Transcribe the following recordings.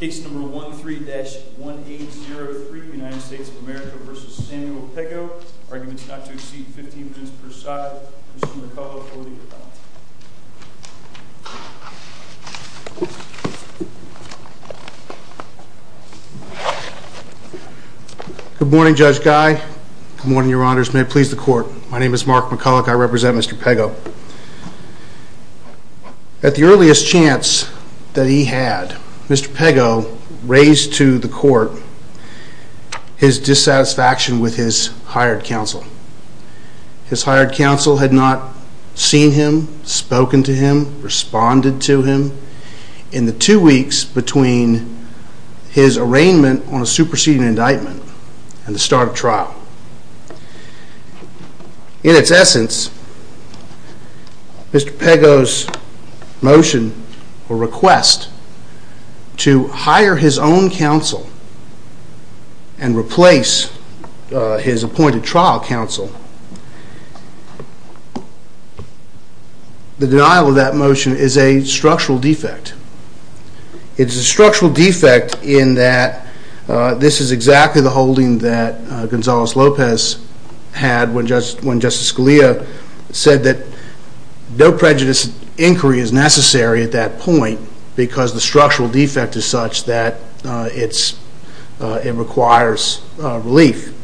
Case number 13-1803, United States of America v. Samuel Pego. Arguments not to exceed 15 minutes per side. Mr. McCulloch, over to you for the balance. Good morning, Judge Guy. Good morning, Your Honors. May it please the Court. My name is Mark McCulloch. I represent Mr. Pego. At the earliest chance that he had, Mr. Pego raised to the Court his dissatisfaction with his hired counsel. His hired counsel had not seen him, spoken to him, responded to him in the two weeks between his arraignment on a trial. In its essence, Mr. Pego's motion, or request, to hire his own counsel and replace his appointed trial counsel, the denial of that motion is a structural defect. It's a structural defect in that this is exactly the Lopez had when Justice Scalia said that no prejudice inquiry is necessary at that point, because the structural defect is such that it requires relief.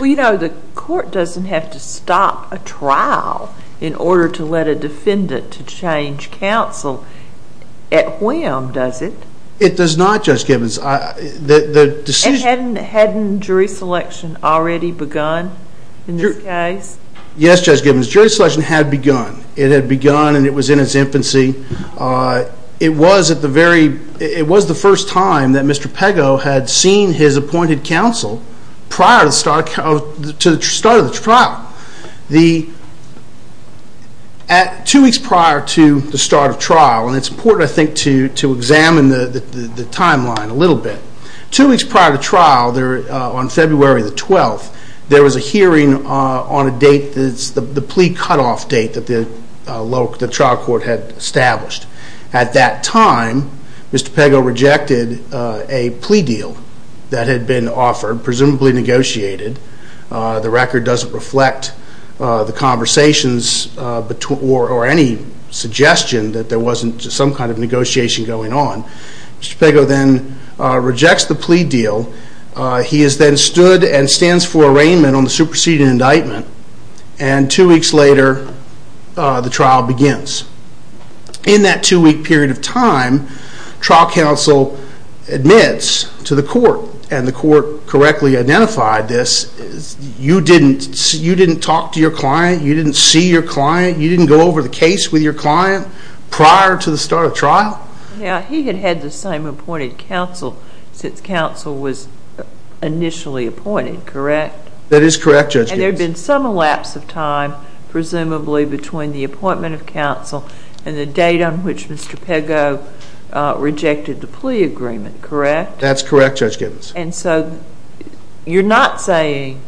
Well, you know, the Court doesn't have to stop a trial in order to let a defendant to change counsel. At whim, does it? It does not, Judge Gibbons. The decision- Hadn't jury selection already begun in this case? Yes, Judge Gibbons. Jury selection had begun. It had begun, and it was in its infancy. It was the first time that Mr. Pego had seen his appointed counsel prior to the start of the trial. Two weeks prior to the start of trial, and it's important, I think, to examine the timeline a little bit. Two weeks prior to trial, on February the 12th, there was a hearing on the plea cutoff date that the trial court had established. At that time, Mr. Pego rejected a plea deal that had been offered, presumably negotiated. The record doesn't reflect the conversations or any suggestion that there wasn't some kind of negotiation going on. Mr. Pego then rejects the plea deal. He is then stood and stands for arraignment on the superseding indictment. And two weeks later, the trial begins. In that two-week period of time, trial counsel admits to the court, and the court correctly identified this, you didn't talk to your client, you didn't see your client, you didn't go over the case with your client prior to the start of trial? Yeah, he had had the same appointed counsel since counsel was initially appointed, correct? That is correct, Judge Gibbons. And there had been some elapse of time, presumably, between the appointment of counsel and the date on which Mr. Pego rejected the plea agreement, correct? That's correct, Judge Gibbons. And so you're not saying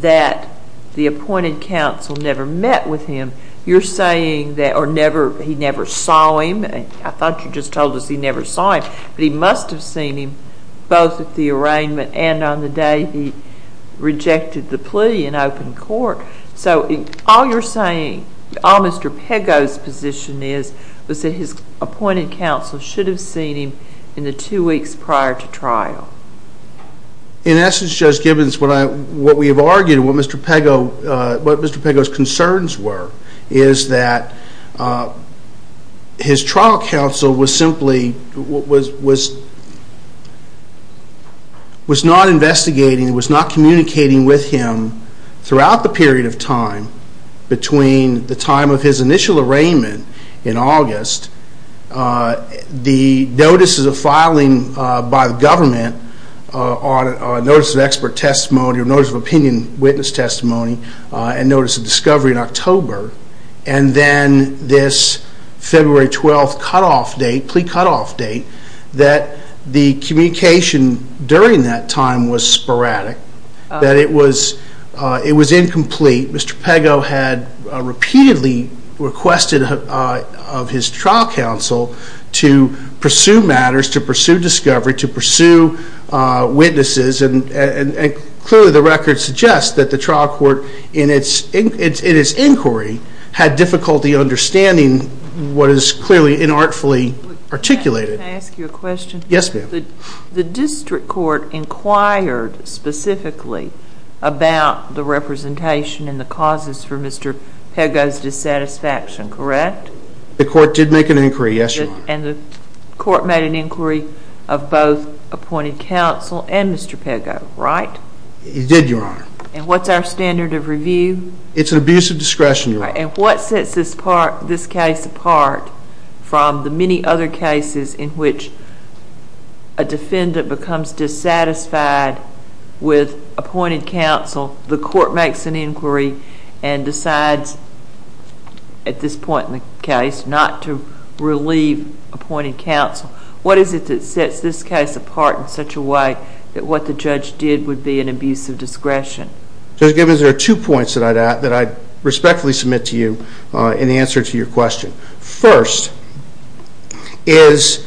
that the appointed counsel never met with him. You're saying that he never saw him. I thought you just told us he never saw him. But he must have seen him both at the arraignment and on the day he rejected the plea in open court. So all you're saying, all Mr. Pego's position is, was that his appointed counsel should have seen him in the two weeks prior to trial. In essence, Judge Gibbons, what we have argued, what Mr. Pego's concerns were, is that his trial counsel was not investigating, was not communicating with him throughout the period of time between the time of his initial arraignment in August, the notices of filing by the government, notice of expert testimony, or notice of opinion witness testimony, and notice of discovery in October. And then this February 12th cutoff date, plea cutoff date, that the communication during that time was sporadic, that it was incomplete. Mr. Pego had repeatedly requested of his trial counsel to pursue matters, to pursue discovery, to pursue witnesses. And clearly, the record suggests that the trial court, in its inquiry, had difficulty understanding what is clearly inartfully articulated. Can I ask you a question? Yes, ma'am. The district court inquired specifically about the representation and the causes for Mr. Pego's dissatisfaction, correct? The court did make an inquiry, yes, Your Honor. And the court made an inquiry of both appointed counsel and Mr. Pego, right? It did, Your Honor. And what's our standard of review? It's an abuse of discretion, Your Honor. And what sets this case apart from the many other cases in which a defendant becomes dissatisfied with appointed counsel? The court makes an inquiry and decides, at this point in the case, not to relieve appointed counsel. What is it that sets this case apart in such a way that what the judge did would be an abuse of discretion? Judge Gibbons, there are two points that I'd respectfully submit to you in answer to your question. First is,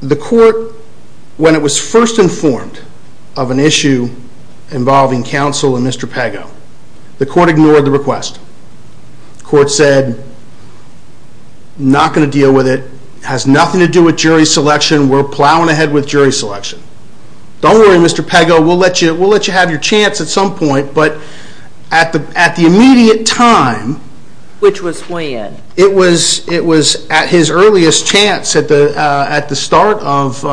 when it was first informed of an issue involving counsel and Mr. Pego, the court ignored the request. The court said, not going to deal with it. Has nothing to do with jury selection. We're plowing ahead with jury selection. Don't worry, Mr. Pego. We'll let you have your chance at some point. But at the immediate time. Which was when? It was at his earliest chance, at the start of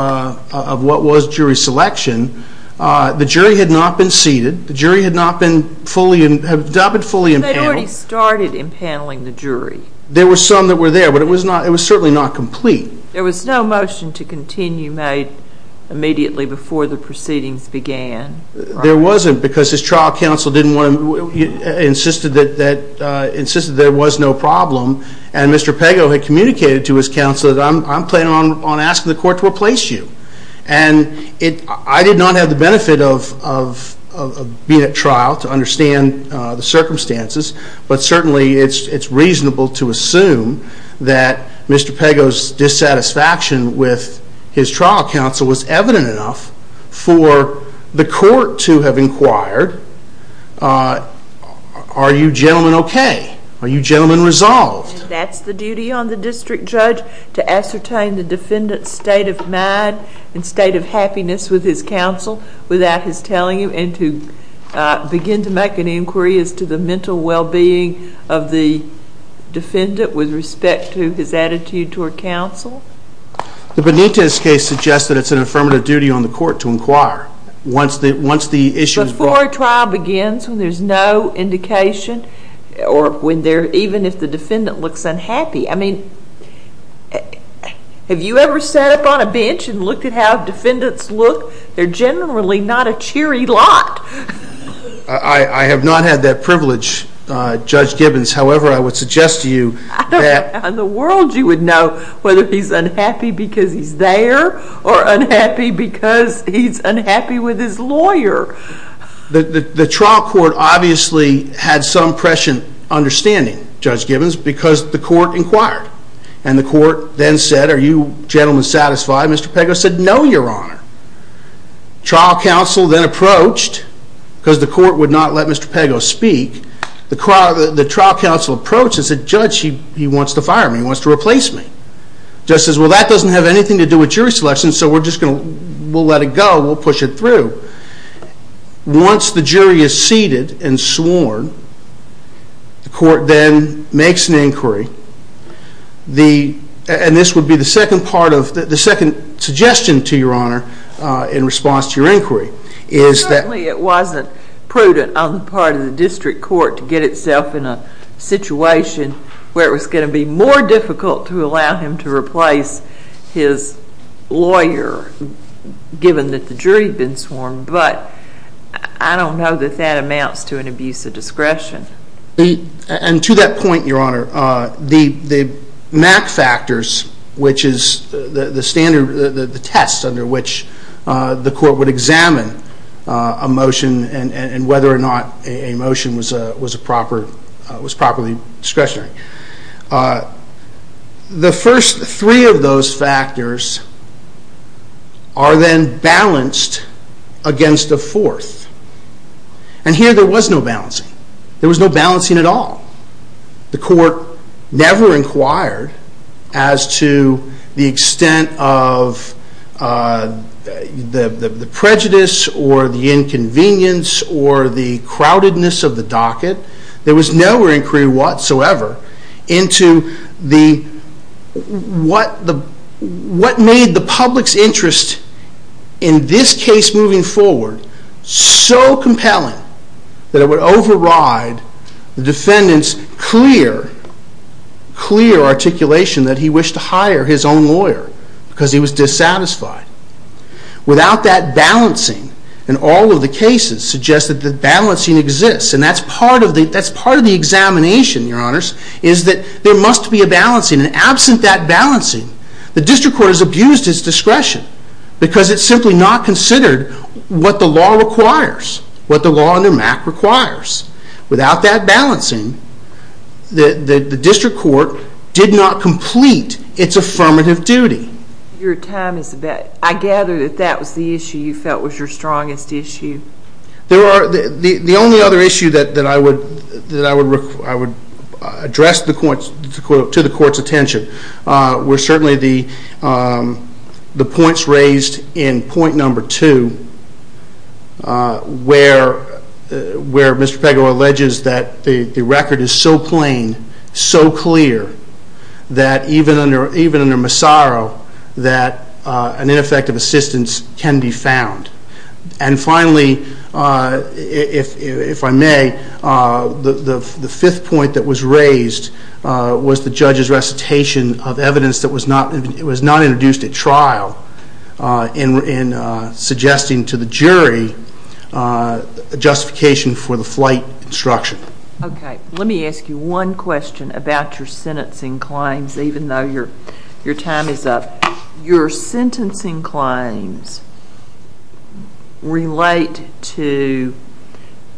what was jury selection. The jury had not been seated. The jury had not been fully empaneled. They'd already started empaneling the jury. There were some that were there, but it was certainly not complete. There was no motion to continue made immediately before the proceedings began. There wasn't, because his trial counsel insisted there was no problem. And Mr. Pego had communicated to his counsel that I'm planning on asking the court to replace you. And I did not have the benefit of being at trial to understand the circumstances. But certainly, it's reasonable to assume that Mr. Pego's dissatisfaction with his trial counsel was evident enough for the court to have inquired, are you gentlemen OK? Are you gentlemen resolved? That's the duty on the district judge to ascertain the defendant's state of mind and state of happiness with his counsel, without his telling him, and to begin to make an inquiry as to the mental well-being of the defendant with respect to his attitude toward counsel. The Benitez case suggests that it's an affirmative duty on the court to inquire once the issue is brought. Before a trial begins, when there's no indication, or even if the defendant looks unhappy. I mean, have you ever sat up on a bench and looked at how defendants look? They're generally not a cheery lot. I have not had that privilege, Judge Gibbons. However, I would suggest to you that. In the world, you would know whether he's unhappy because he's there, or unhappy because he's unhappy with his lawyer. The trial court obviously had some prescient understanding, Judge Gibbons, because the court inquired. And the court then said, are you gentlemen satisfied? Mr. Pego said, no, Your Honor. The trial counsel then approached, because the court would not let Mr. Pego speak. The trial counsel approached and said, Judge, he wants to fire me. He wants to replace me. The judge says, well, that doesn't have anything to do with jury selection, so we'll let it go. We'll push it through. Once the jury is seated and sworn, the court then makes an inquiry. And this would be the second part of the second suggestion to Your Honor, in response to your inquiry, is that. Certainly it wasn't prudent on the part of the district court to get itself in a situation where it was going to be more difficult to allow him to replace his lawyer, given that the jury had been sworn. to an abuse of discretion. And to that point, Your Honor, the MAC factors, which is the standard, the test under which the court would examine a motion and whether or not a motion was properly discretionary, the first three of those factors are then balanced against a fourth. And here there was no balancing. There was no balancing at all. The court never inquired as to the extent of the prejudice or the inconvenience or the crowdedness of the docket. There was no inquiry whatsoever into what made the public's interest in this case moving forward so compelling that it would override the defendant's clear, clear articulation that he wished to hire his own lawyer, because he was dissatisfied. Without that balancing, and all of the cases suggest that the balancing exists, and that's part of the examination, Your Honors, is that there must be a balancing. And absent that balancing, the district court has abused its discretion, because it's simply not what the law requires, what the law under MAC requires. Without that balancing, the district court did not complete its affirmative duty. Your time is about. I gather that that was the issue you felt was your strongest issue. There are. The only other issue that I would address to the court's attention were certainly the points raised in point number two, where Mr. Pego alleges that the record is so plain, so clear, that even under Massaro, that an ineffective assistance can be found. And finally, if I may, the fifth point that was raised was the judge's recitation of evidence that was not introduced at trial in suggesting to the jury a justification for the flight instruction. OK. Let me ask you one question about your sentencing claims, even though your time is up. Your sentencing claims relate to,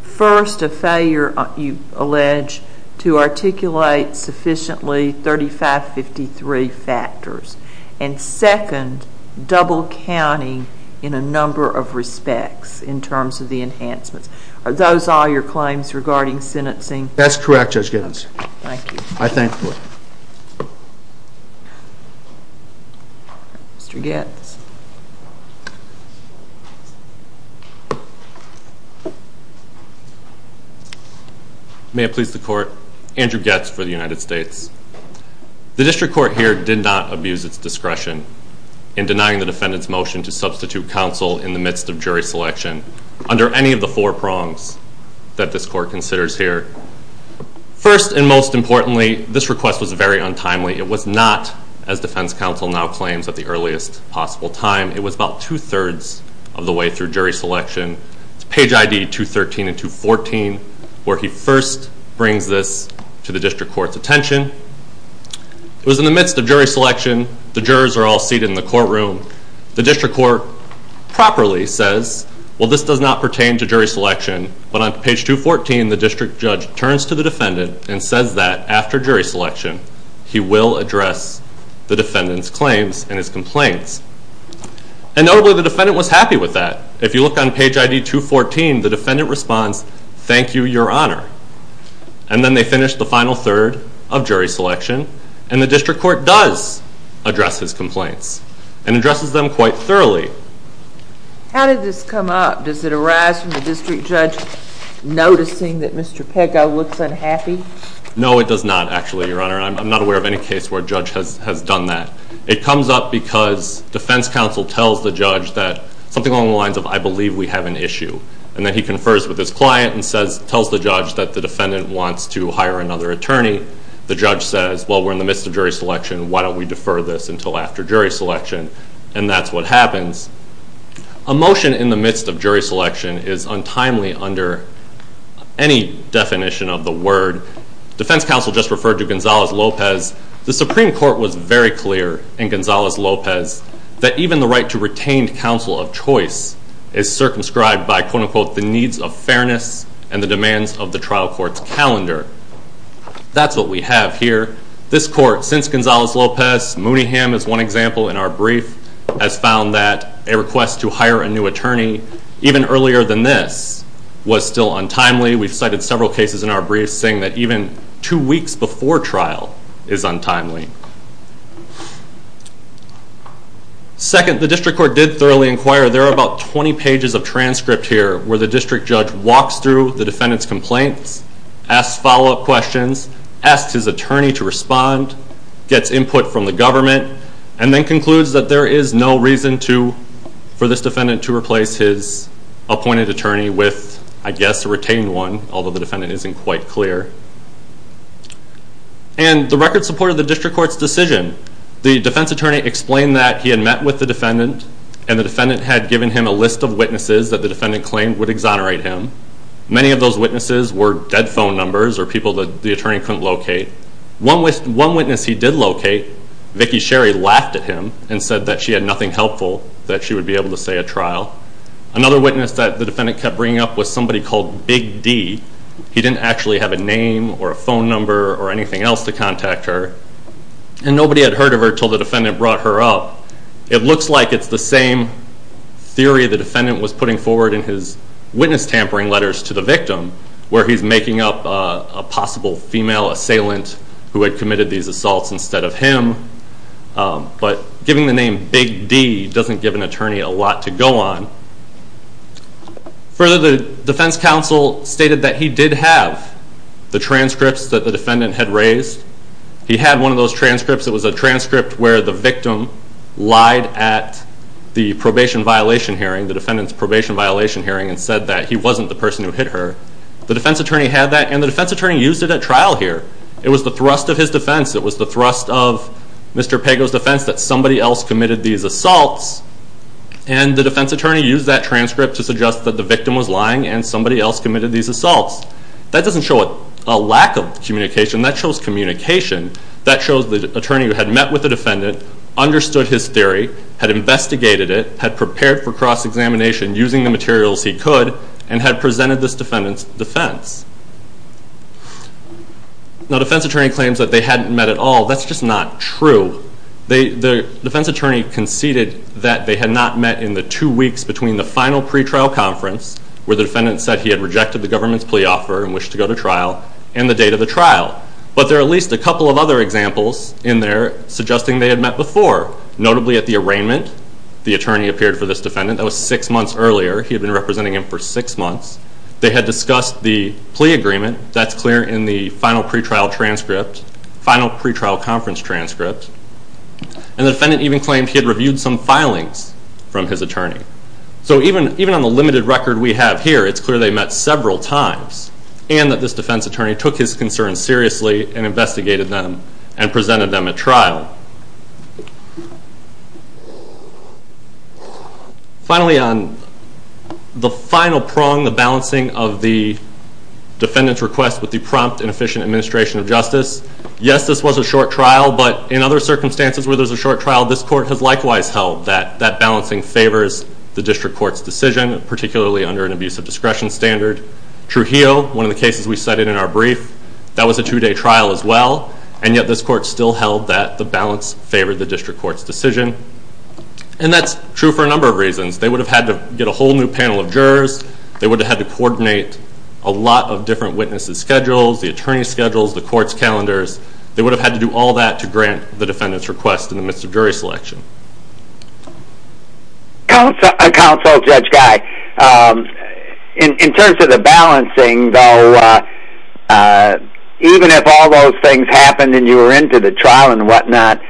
first, a failure, you allege, to articulate sufficiently 3553 factors. And second, double counting in a number of respects, in terms of the enhancements. Are those all your claims regarding sentencing? That's correct, Judge Giddens. Thank you. I thank the court. Mr. Goetz. May it please the court, Andrew Goetz for the United States. The district court here did not abuse its discretion in denying the defendant's motion to substitute counsel in the midst of jury selection, under any of the four prongs that this court considers here. First, and most importantly, this request was very untimely. It was not, as defense counsel now claims, at the earliest possible time. It was about 2 3rds of the way through jury selection. It's page ID 213 and 214, where he first brings this to the district court's attention. It was in the midst of jury selection. The jurors are all seated in the courtroom. The district court properly says, well, this does not pertain to jury selection. But on page 214, the district judge turns to the defendant and says that, after jury selection, he will address the defendant's claims and his complaints. And notably, the defendant was happy with that. If you look on page ID 214, the defendant responds, thank you, Your Honor. And then they finish the final third of jury selection. And the district court does address his complaints and addresses them quite thoroughly. How did this come up? Does it arise from the district judge noticing that Mr. Pego looks unhappy? No, it does not, actually, Your Honor. I'm not aware of any case where a judge has done that. It comes up because defense counsel tells the judge that something along the lines of, I believe we have an issue. And then he confers with his client and tells the judge that the defendant wants to hire another attorney. The judge says, well, we're in the midst of jury selection. Why don't we defer this until after jury selection? And that's what happens. A motion in the midst of jury selection is untimely under any definition of the word. Defense counsel just referred to Gonzalez-Lopez. The Supreme Court was very clear in Gonzalez-Lopez that even the right to retained counsel of choice is circumscribed by, quote, unquote, the needs of fairness and the demands of the trial court's calendar. That's what we have here. This court, since Gonzalez-Lopez, Mooneyham is one example in our brief, has found that a request to hire a new attorney even earlier than this was still untimely. We've cited several cases in our brief saying that even two weeks before trial is untimely. Second, the district court did thoroughly inquire. There are about 20 pages of transcript here where the district judge walks through the defendant's complaints, asks follow-up questions, asks his attorney to respond, gets input from the government, and then concludes that there is no reason for this defendant to replace his appointed attorney with, I guess, a retained one, although the defendant isn't quite clear. And the record supported the district court's decision. The defense attorney explained that he had met with the defendant, and the defendant had given him a list of witnesses that the defendant claimed would exonerate him. Many of those witnesses were dead phone numbers or people that the attorney couldn't locate. One witness he did locate, Vicki Sherry, laughed at him and said that she had nothing helpful, that she would be able to stay at trial. Another witness that the defendant kept bringing up was somebody called Big D. He didn't actually have a name or a phone number or anything else to contact her. And nobody had heard of her till the defendant brought her up. It looks like it's the same theory the defendant was putting forward in his witness tampering letters to the victim, where he's making up a possible female assailant who had committed these assaults instead of him. But giving the name Big D doesn't give an attorney a lot to go on. Further, the defense counsel stated that he did have the transcripts that the defendant had raised. He had one of those transcripts. It was a transcript where the victim lied at the probation violation hearing, the defendant's probation violation hearing, and said that he wasn't the person who hit her. The defense attorney had that. And the defense attorney used it at trial here. It was the thrust of his defense. It was the thrust of Mr. Pago's defense that somebody else committed these assaults. And the defense attorney used that transcript to suggest that the victim was lying and somebody else committed these assaults. That doesn't show a lack of communication. That shows communication. That shows the attorney who had met with the defendant, understood his theory, had investigated it, had prepared for cross-examination using the materials he could, and had presented this defendant's defense. Now, defense attorney claims that they hadn't met at all. That's just not true. The defense attorney conceded that they had not met in the two weeks between the final pretrial conference, where the defendant said he had rejected the government's plea offer and wished to go to trial, and the date of the trial. But there are at least a couple of other examples in there suggesting they had met before, notably at the arraignment. The attorney appeared for this defendant. That was six months earlier. He had been representing him for six months. They had discussed the plea agreement. That's clear in the final pretrial conference transcript. And the defendant even claimed he had reviewed some filings from his attorney. So even on the limited record we have here, it's clear they met several times, and that this defense attorney took his concerns seriously, and investigated them, and presented them at trial. Finally, on the final prong, the balancing of the defendant's request with the prompt and efficient administration of justice, yes, this was a short trial. But in other circumstances where there's a short trial, this court has likewise held that that balancing favors the district court's decision, particularly under an abuse of discretion standard. Trujillo, one of the cases we cited in our brief, that was a two-day trial as well. And yet this court still held that the balance favored the district court's decision. And that's true for a number of reasons. They would have had to get a whole new panel of jurors. They would have had to coordinate a lot of different witnesses' schedules, the attorney's schedules, the court's calendars. They would have had to do all that to grant the defendant's request in the midst of jury selection. Counsel, Judge Guy, in terms of the balancing, though, even if all those things happened and you were into the trial and whatnot,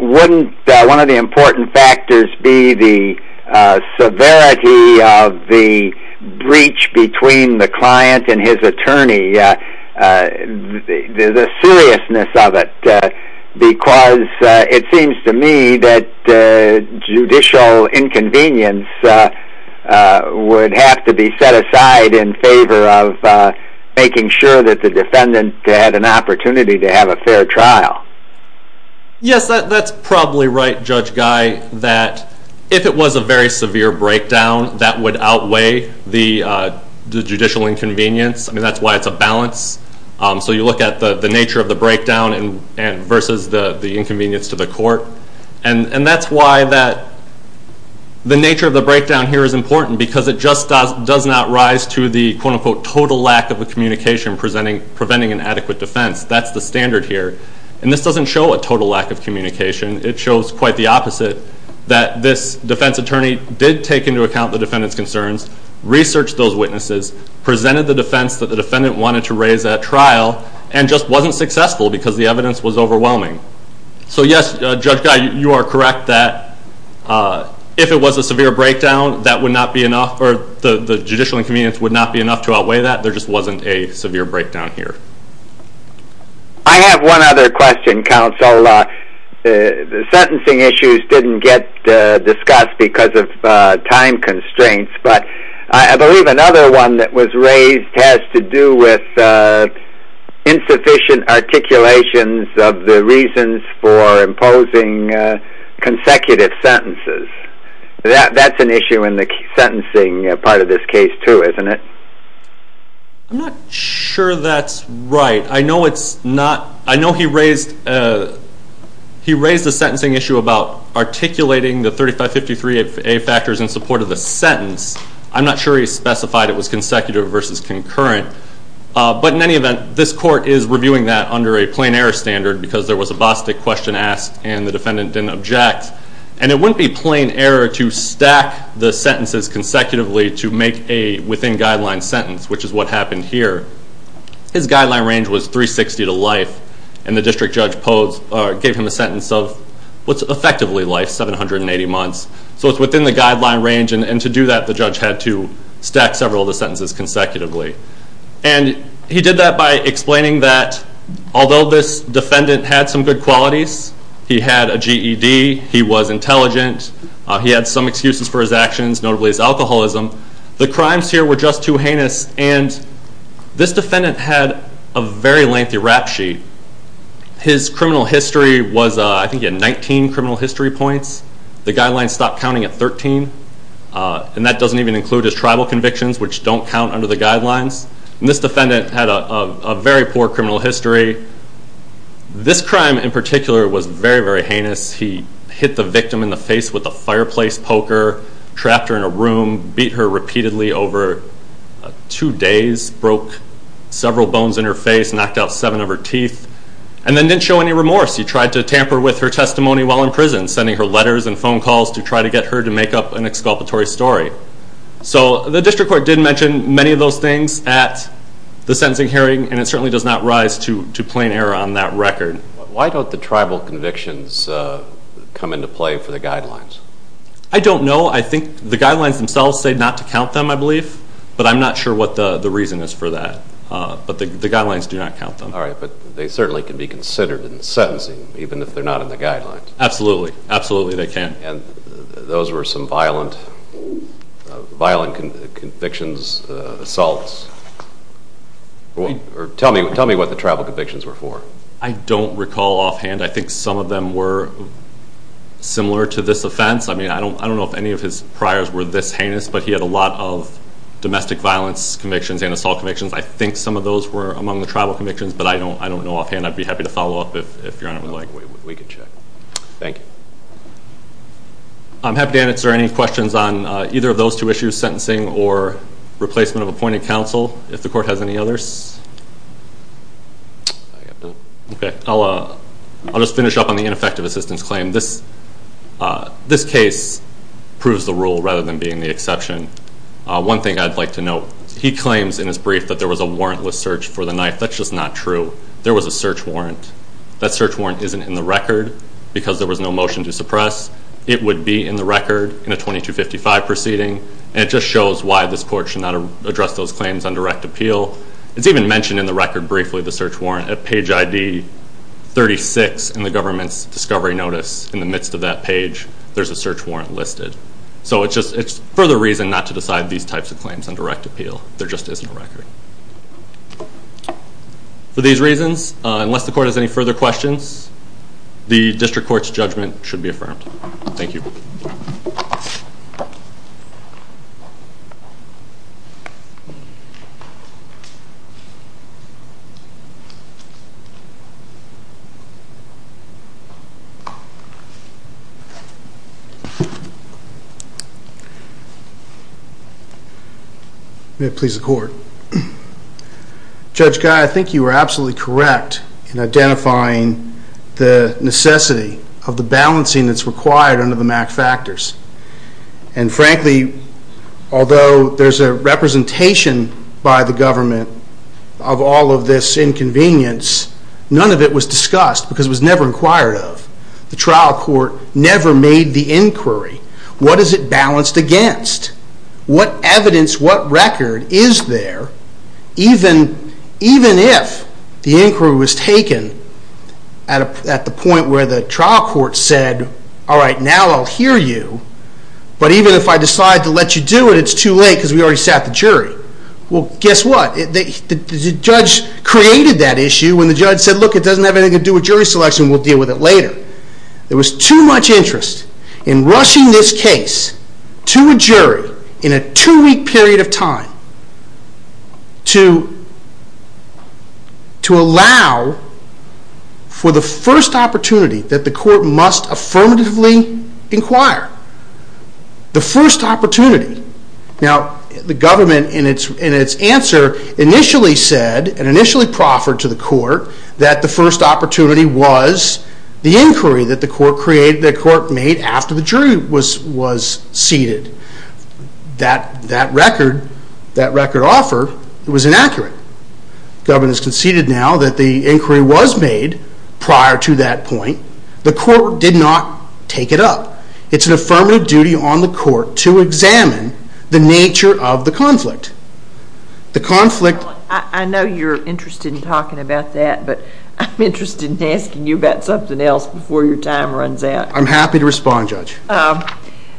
wouldn't one of the important factors be the severity of the breach between the client and his attorney, the seriousness of it? Because it seems to me that judicial inconvenience would have to be set aside in favor of making sure that the defendant had an opportunity to have a fair trial. Yes, that's probably right, Judge Guy, that if it was a very severe breakdown, that would outweigh the judicial inconvenience. I mean, that's why it's a balance. So you look at the nature of the breakdown versus the inconvenience to the court. And that's why the nature of the breakdown here is important, because it just does not rise to the, quote unquote, total lack of a communication preventing an adequate defense. That's the standard here. And this doesn't show a total lack of communication. It shows quite the opposite, that this defense attorney did take into account the defendant's concerns, researched those witnesses, presented the defense that the defendant wanted to raise at trial, and just wasn't successful because the evidence was overwhelming. So yes, Judge Guy, you are correct that if it was a severe breakdown, that would not be enough, or the judicial inconvenience would not be enough to outweigh that. There just wasn't a severe breakdown here. I have one other question, counsel. The sentencing issues didn't get discussed because of time constraints. But I believe another one that was raised has to do with insufficient articulations of the reasons for imposing consecutive sentences. That's an issue in the sentencing part of this case, too, isn't it? I'm not sure that's right. I know he raised the sentencing issue about articulating the 3553A factors in support of the sentence. I'm not sure he specified it was consecutive versus concurrent. But in any event, this court is reviewing that under a plain error standard because there was a Bostick question asked and the defendant didn't object. And it wouldn't be plain error to stack the sentences consecutively to make a within-guideline sentence, which is what happened here. His guideline range was 360 to life. And the district judge gave him a sentence of what's effectively life, 780 months. So it's within the guideline range. And to do that, the judge had to stack several of the sentences consecutively. And he did that by explaining that although this defendant had some good qualities, he had a GED, he was intelligent, he had some excuses for his actions, notably his alcoholism, the crimes here were just too heinous. And this defendant had a very lengthy rap sheet. His criminal history was, I think, at 19 criminal history points. The guidelines stopped counting at 13. And that doesn't even include his tribal convictions, which don't count under the guidelines. And this defendant had a very poor criminal history. This crime, in particular, was very, very heinous. He hit the victim in the face with a fireplace poker, trapped her in a room, beat her repeatedly over two days, broke several bones in her face, knocked out seven of her teeth, and then didn't show any remorse. He tried to tamper with her testimony while in prison, sending her letters and phone calls to try to get her to make up an exculpatory story. So the district court did mention many of those things at the sentencing hearing, and it certainly does not rise to plain error on that record. Why don't the tribal convictions come into play for the guidelines? I don't know. I think the guidelines themselves say not to count them, I believe. But I'm not sure what the reason is for that. But the guidelines do not count them. All right, but they certainly can be considered in the sentencing, even if they're not in the guidelines. Absolutely. Absolutely, they can. And those were some violent convictions, assaults. Tell me what the tribal convictions were for. I don't recall offhand. I think some of them were similar to this offense. I mean, I don't know if any of his priors were this heinous, but he had a lot of domestic violence convictions and assault convictions. I think some of those were among the tribal convictions, but I don't know offhand. I'd be happy to follow up if Your Honor would like. We can check. Thank you. I'm happy to answer any questions on either of those two issues, sentencing or replacement of appointed counsel, if the court has any others. OK, I'll just finish up on the ineffective assistance claim. This case proves the rule rather than being the exception. One thing I'd like to note, he claims in his brief that there was a warrantless search for the knife. That's just not true. There was a search warrant. That search warrant isn't in the record because there was no motion to suppress. It would be in the record in a 2255 proceeding. And it just shows why this court should not address those claims on direct appeal. It's even mentioned in the record briefly, the search warrant at page ID 36 in the government's discovery notice. In the midst of that page, there's a search warrant listed. So it's just further reason not to decide these types of claims on direct appeal. There just isn't a record. For these reasons, unless the court has any further questions, the district court's judgment should be affirmed. Thank you. Thank you. May it please the court. Judge Guy, I think you were absolutely correct in identifying the necessity of the balancing that's there between the two factors. And frankly, although there's a representation by the government of all of this inconvenience, none of it was discussed because it was never inquired of. The trial court never made the inquiry. What is it balanced against? What evidence, what record is there, even if the inquiry was taken at the point where the trial court said, all right, now I'll hear you. But even if I decide to let you do it, it's too late because we already sat the jury. Well, guess what? The judge created that issue when the judge said, look, it doesn't have anything to do with jury selection. We'll deal with it later. There was too much interest in rushing this case to a jury in a two-week period of time to allow for the first opportunity that the court must affirmatively inquire. The first opportunity. Now, the government, in its answer, initially said and initially proffered to the court that the first opportunity was the inquiry that the court made after the jury was seated. That record, that record offered, was inaccurate. Government has conceded now that the inquiry was made prior to that point. The court did not take it up. It's an affirmative duty on the court to examine the nature of the conflict. The conflict. I know you're interested in talking about that, but I'm interested in asking you about something else before your time runs out. I'm happy to respond, Judge.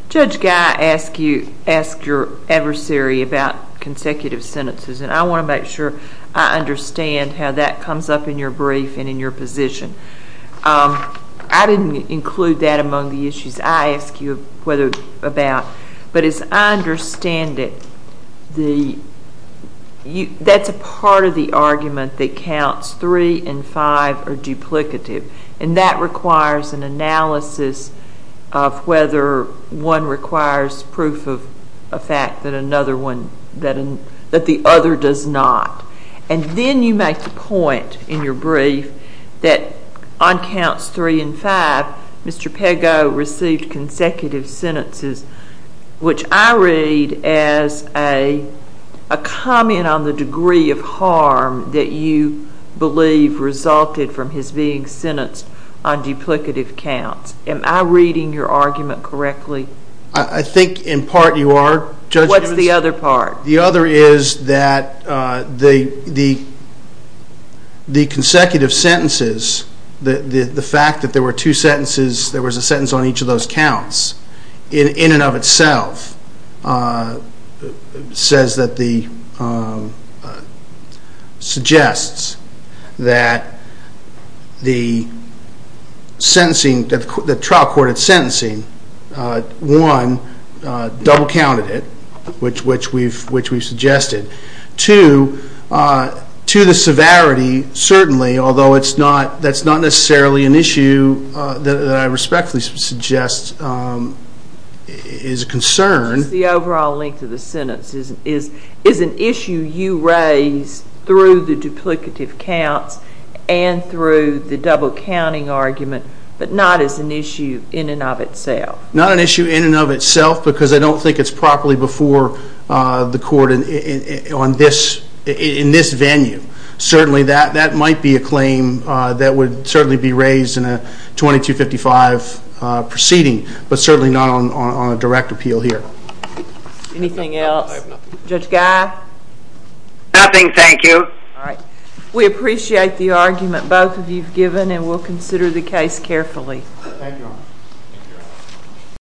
Judge Guy asked your adversary about consecutive sentences, and I want to make sure I understand how that comes up in your brief and in your position. I didn't include that among the issues I asked you about. But as I understand it, that's a part of the argument that counts three and five are duplicative, and that requires an analysis of whether one requires proof of a fact that another one, that the other does not. And then you make the point in your brief that on counts three and five, Mr. Pago received consecutive sentences, which I read as a comment on the degree of harm that you believe resulted from his being sentenced on duplicative counts. Am I reading your argument correctly? I think in part you are, Judge. What's the other part? The other is that the consecutive sentences, the fact that there were two sentences, there was a sentence on each of those counts, in and of itself says that the suggests that the trial court had sentencing, one, double counted it, which we've suggested. Two, to the severity, certainly, although that's not necessarily an issue that I respectfully suggest is a concern. The overall length of the sentence is an issue you raise through the duplicative counts and through the double counting argument, but not as an issue in and of itself. Not an issue in and of itself, because I don't think it's properly before the court in this venue. Certainly, that might be a claim that would certainly be raised in a 2255 proceeding, but certainly not on a direct appeal here. Anything else? Judge Guy? Nothing, thank you. We appreciate the argument both of you've given, and we'll consider the case carefully.